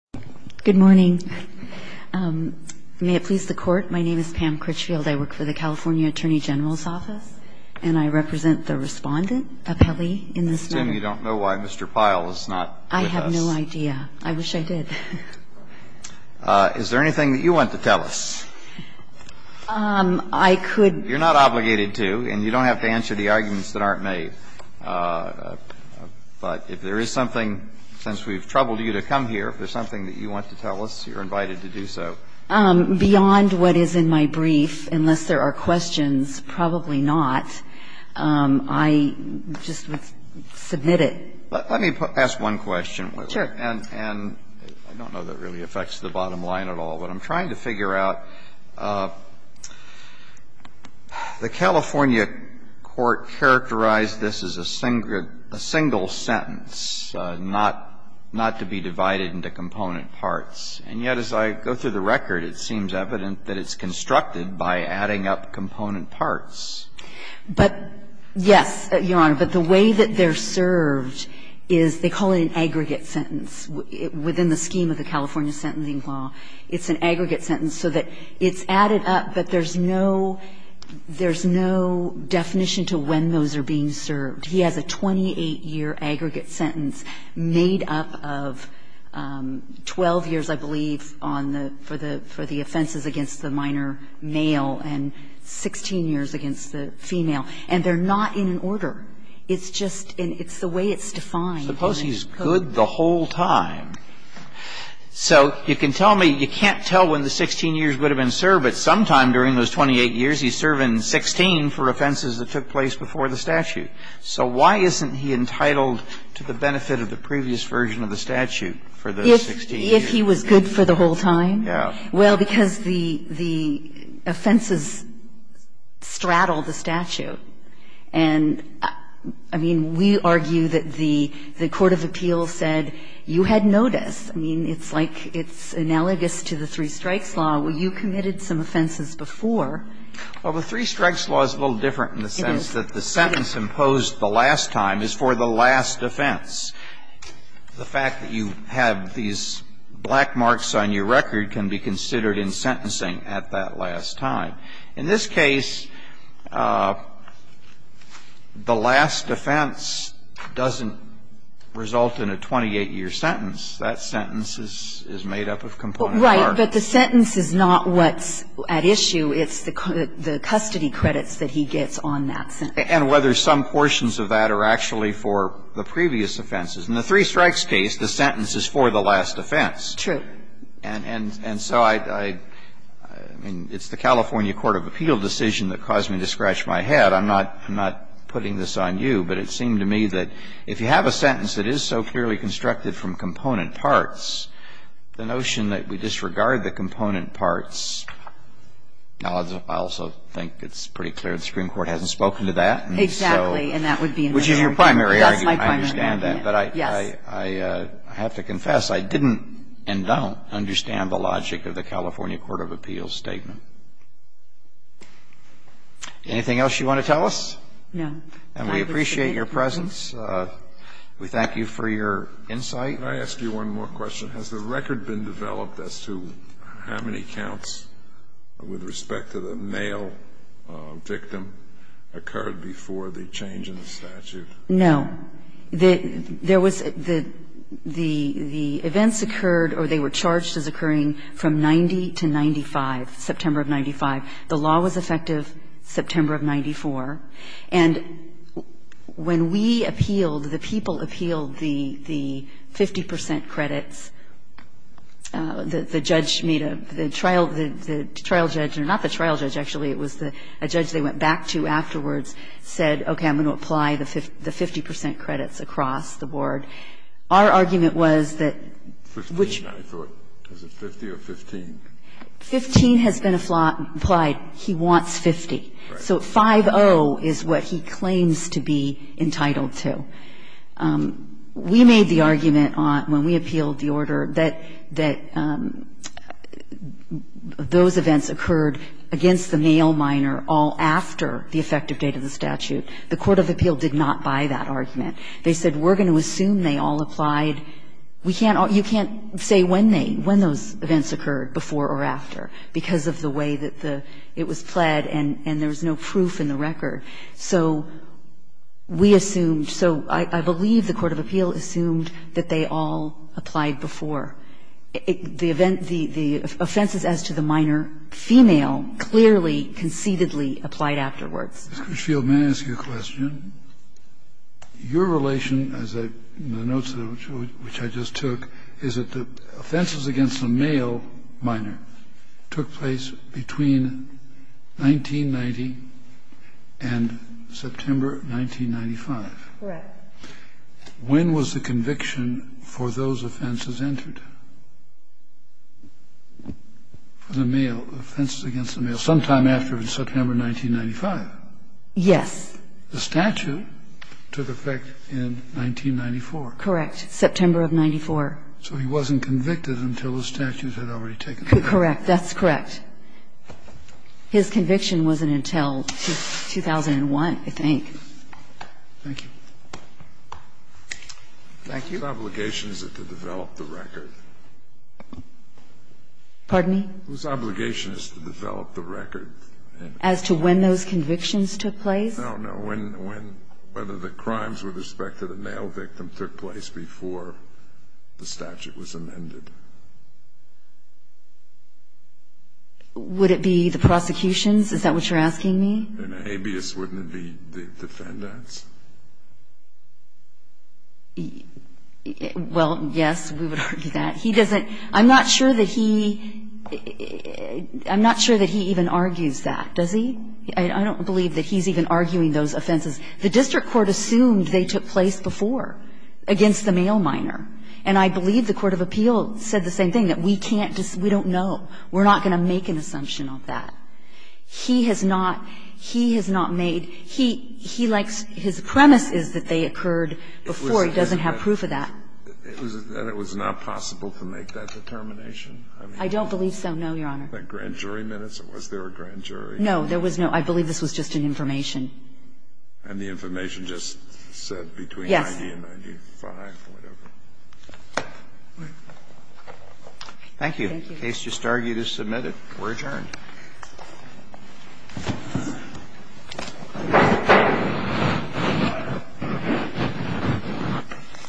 Good morning. May it please the Court, my name is Pam Critchfield. I work for the California Attorney General's Office, and I represent the respondent appellee in this matter. I assume you don't know why Mr. Pyle is not with us. I have no idea. I wish I did. Is there anything that you want to tell us? I could... You're not obligated to, and you don't have to answer the arguments that aren't made. But if there is something, since we've troubled you to come here, if there's something that you want to tell us, you're invited to do so. Beyond what is in my brief, unless there are questions, probably not. I just would submit it. Let me ask one question. Sure. And I don't know that really affects the bottom line at all, but I'm trying to figure out, the California court characterized this as a single sentence, not to be divided into component parts, and yet as I go through the record, it seems evident that it's constructed by adding up component parts. Yes, Your Honor. But the way that they're served is they call it an aggregate sentence. Within the scheme of the California sentencing law, it's an aggregate sentence so that it's added up, but there's no definition to when those are being served. He has a 28-year aggregate sentence made up of 12 years, I believe, on the – for the offenses against the minor male and 16 years against the female. And they're not in an order. It's just – it's the way it's defined. Suppose he's good the whole time. So you can tell me – you can't tell when the 16 years would have been served, but sometime during those 28 years, he's serving 16 for offenses that took place before the statute. So why isn't he entitled to the benefit of the previous version of the statute for those 16 years? If he was good for the whole time? Yeah. Well, because the offenses straddle the statute. And, I mean, we argue that the court of appeals said you had notice. I mean, it's like it's analogous to the three strikes law where you committed some offenses before. Well, the three strikes law is a little different in the sense that the sentence imposed the last time is for the last offense. The fact that you have these black marks on your record can be considered in sentencing at that last time. In this case, the last offense doesn't result in a 28-year sentence. That sentence is made up of component part. Right. But the sentence is not what's at issue. It's the custody credits that he gets on that sentence. And whether some portions of that are actually for the previous offenses. In the three strikes case, the sentence is for the last offense. True. And so I mean, it's the California court of appeal decision that caused me to scratch my head. I'm not putting this on you, but it seemed to me that if you have a sentence that is so clearly constructed from component parts, the notion that we disregard the component parts, I also think it's pretty clear the Supreme Court hasn't spoken to that. Exactly. And that would be in the argument. Which is your primary argument. That's my primary argument. I understand that. Yes. I have to confess, I didn't and don't understand the logic of the California court of appeals statement. Anything else you want to tell us? No. I appreciate your presence. We thank you for your insight. Can I ask you one more question? Has the record been developed as to how many counts with respect to the male victim occurred before the change in the statute? No. There was the events occurred or they were charged as occurring from 90 to 95, September of 95. The law was effective September of 94. And when we appealed, the people appealed the 50 percent credits, the judge made a the trial judge, not the trial judge, actually, it was a judge they went back to afterwards said, okay, I'm going to apply the 50 percent credits across the board. Our argument was that which Fifteen, I thought. Is it 50 or 15? Fifteen has been applied. He wants 50. Right. So 5-0 is what he claims to be entitled to. We made the argument when we appealed the order that those events occurred against the male minor all after the effective date of the statute. The court of appeal did not buy that argument. They said we're going to assume they all applied. You can't say when those events occurred, before or after, because of the way that it was pled and there was no proof in the record. So we assumed, so I believe the court of appeal assumed that they all applied before. The offenses as to the minor female clearly, concededly applied afterwards. Ms. Critchfield, may I ask you a question? Your relation, as I noted, which I just took, is that the offenses against the male minor took place between 1990 and September 1995. Correct. When was the conviction for those offenses entered? For the male, offenses against the male? Sometime after September 1995. Yes. The statute took effect in 1994. Correct. September of 94. So he wasn't convicted until the statute had already taken effect. Correct. That's correct. His conviction wasn't until 2001, I think. Thank you. Thank you. Whose obligation is it to develop the record? Pardon me? Whose obligation is it to develop the record? As to when those convictions took place? No, no. When, whether the crimes with respect to the male victim took place before the statute was amended. Would it be the prosecutions? Is that what you're asking me? Well, yes, we would argue that. He doesn't, I'm not sure that he, I'm not sure that he even argues that, does he? I don't believe that he's even arguing those offenses. The district court assumed they took place before, against the male minor. And I believe the court of appeals said the same thing, that we can't, we don't know. We're not going to make an assumption of that. He has not, he has not made an assumption of that. He has not made, he likes, his premise is that they occurred before. He doesn't have proof of that. And it was not possible to make that determination? I don't believe so, no, Your Honor. Was there a grand jury? No, there was no. I believe this was just an information. And the information just said between 90 and 95 or whatever? Yes. Thank you. The case just argued is submitted. We're adjourned. Thank you.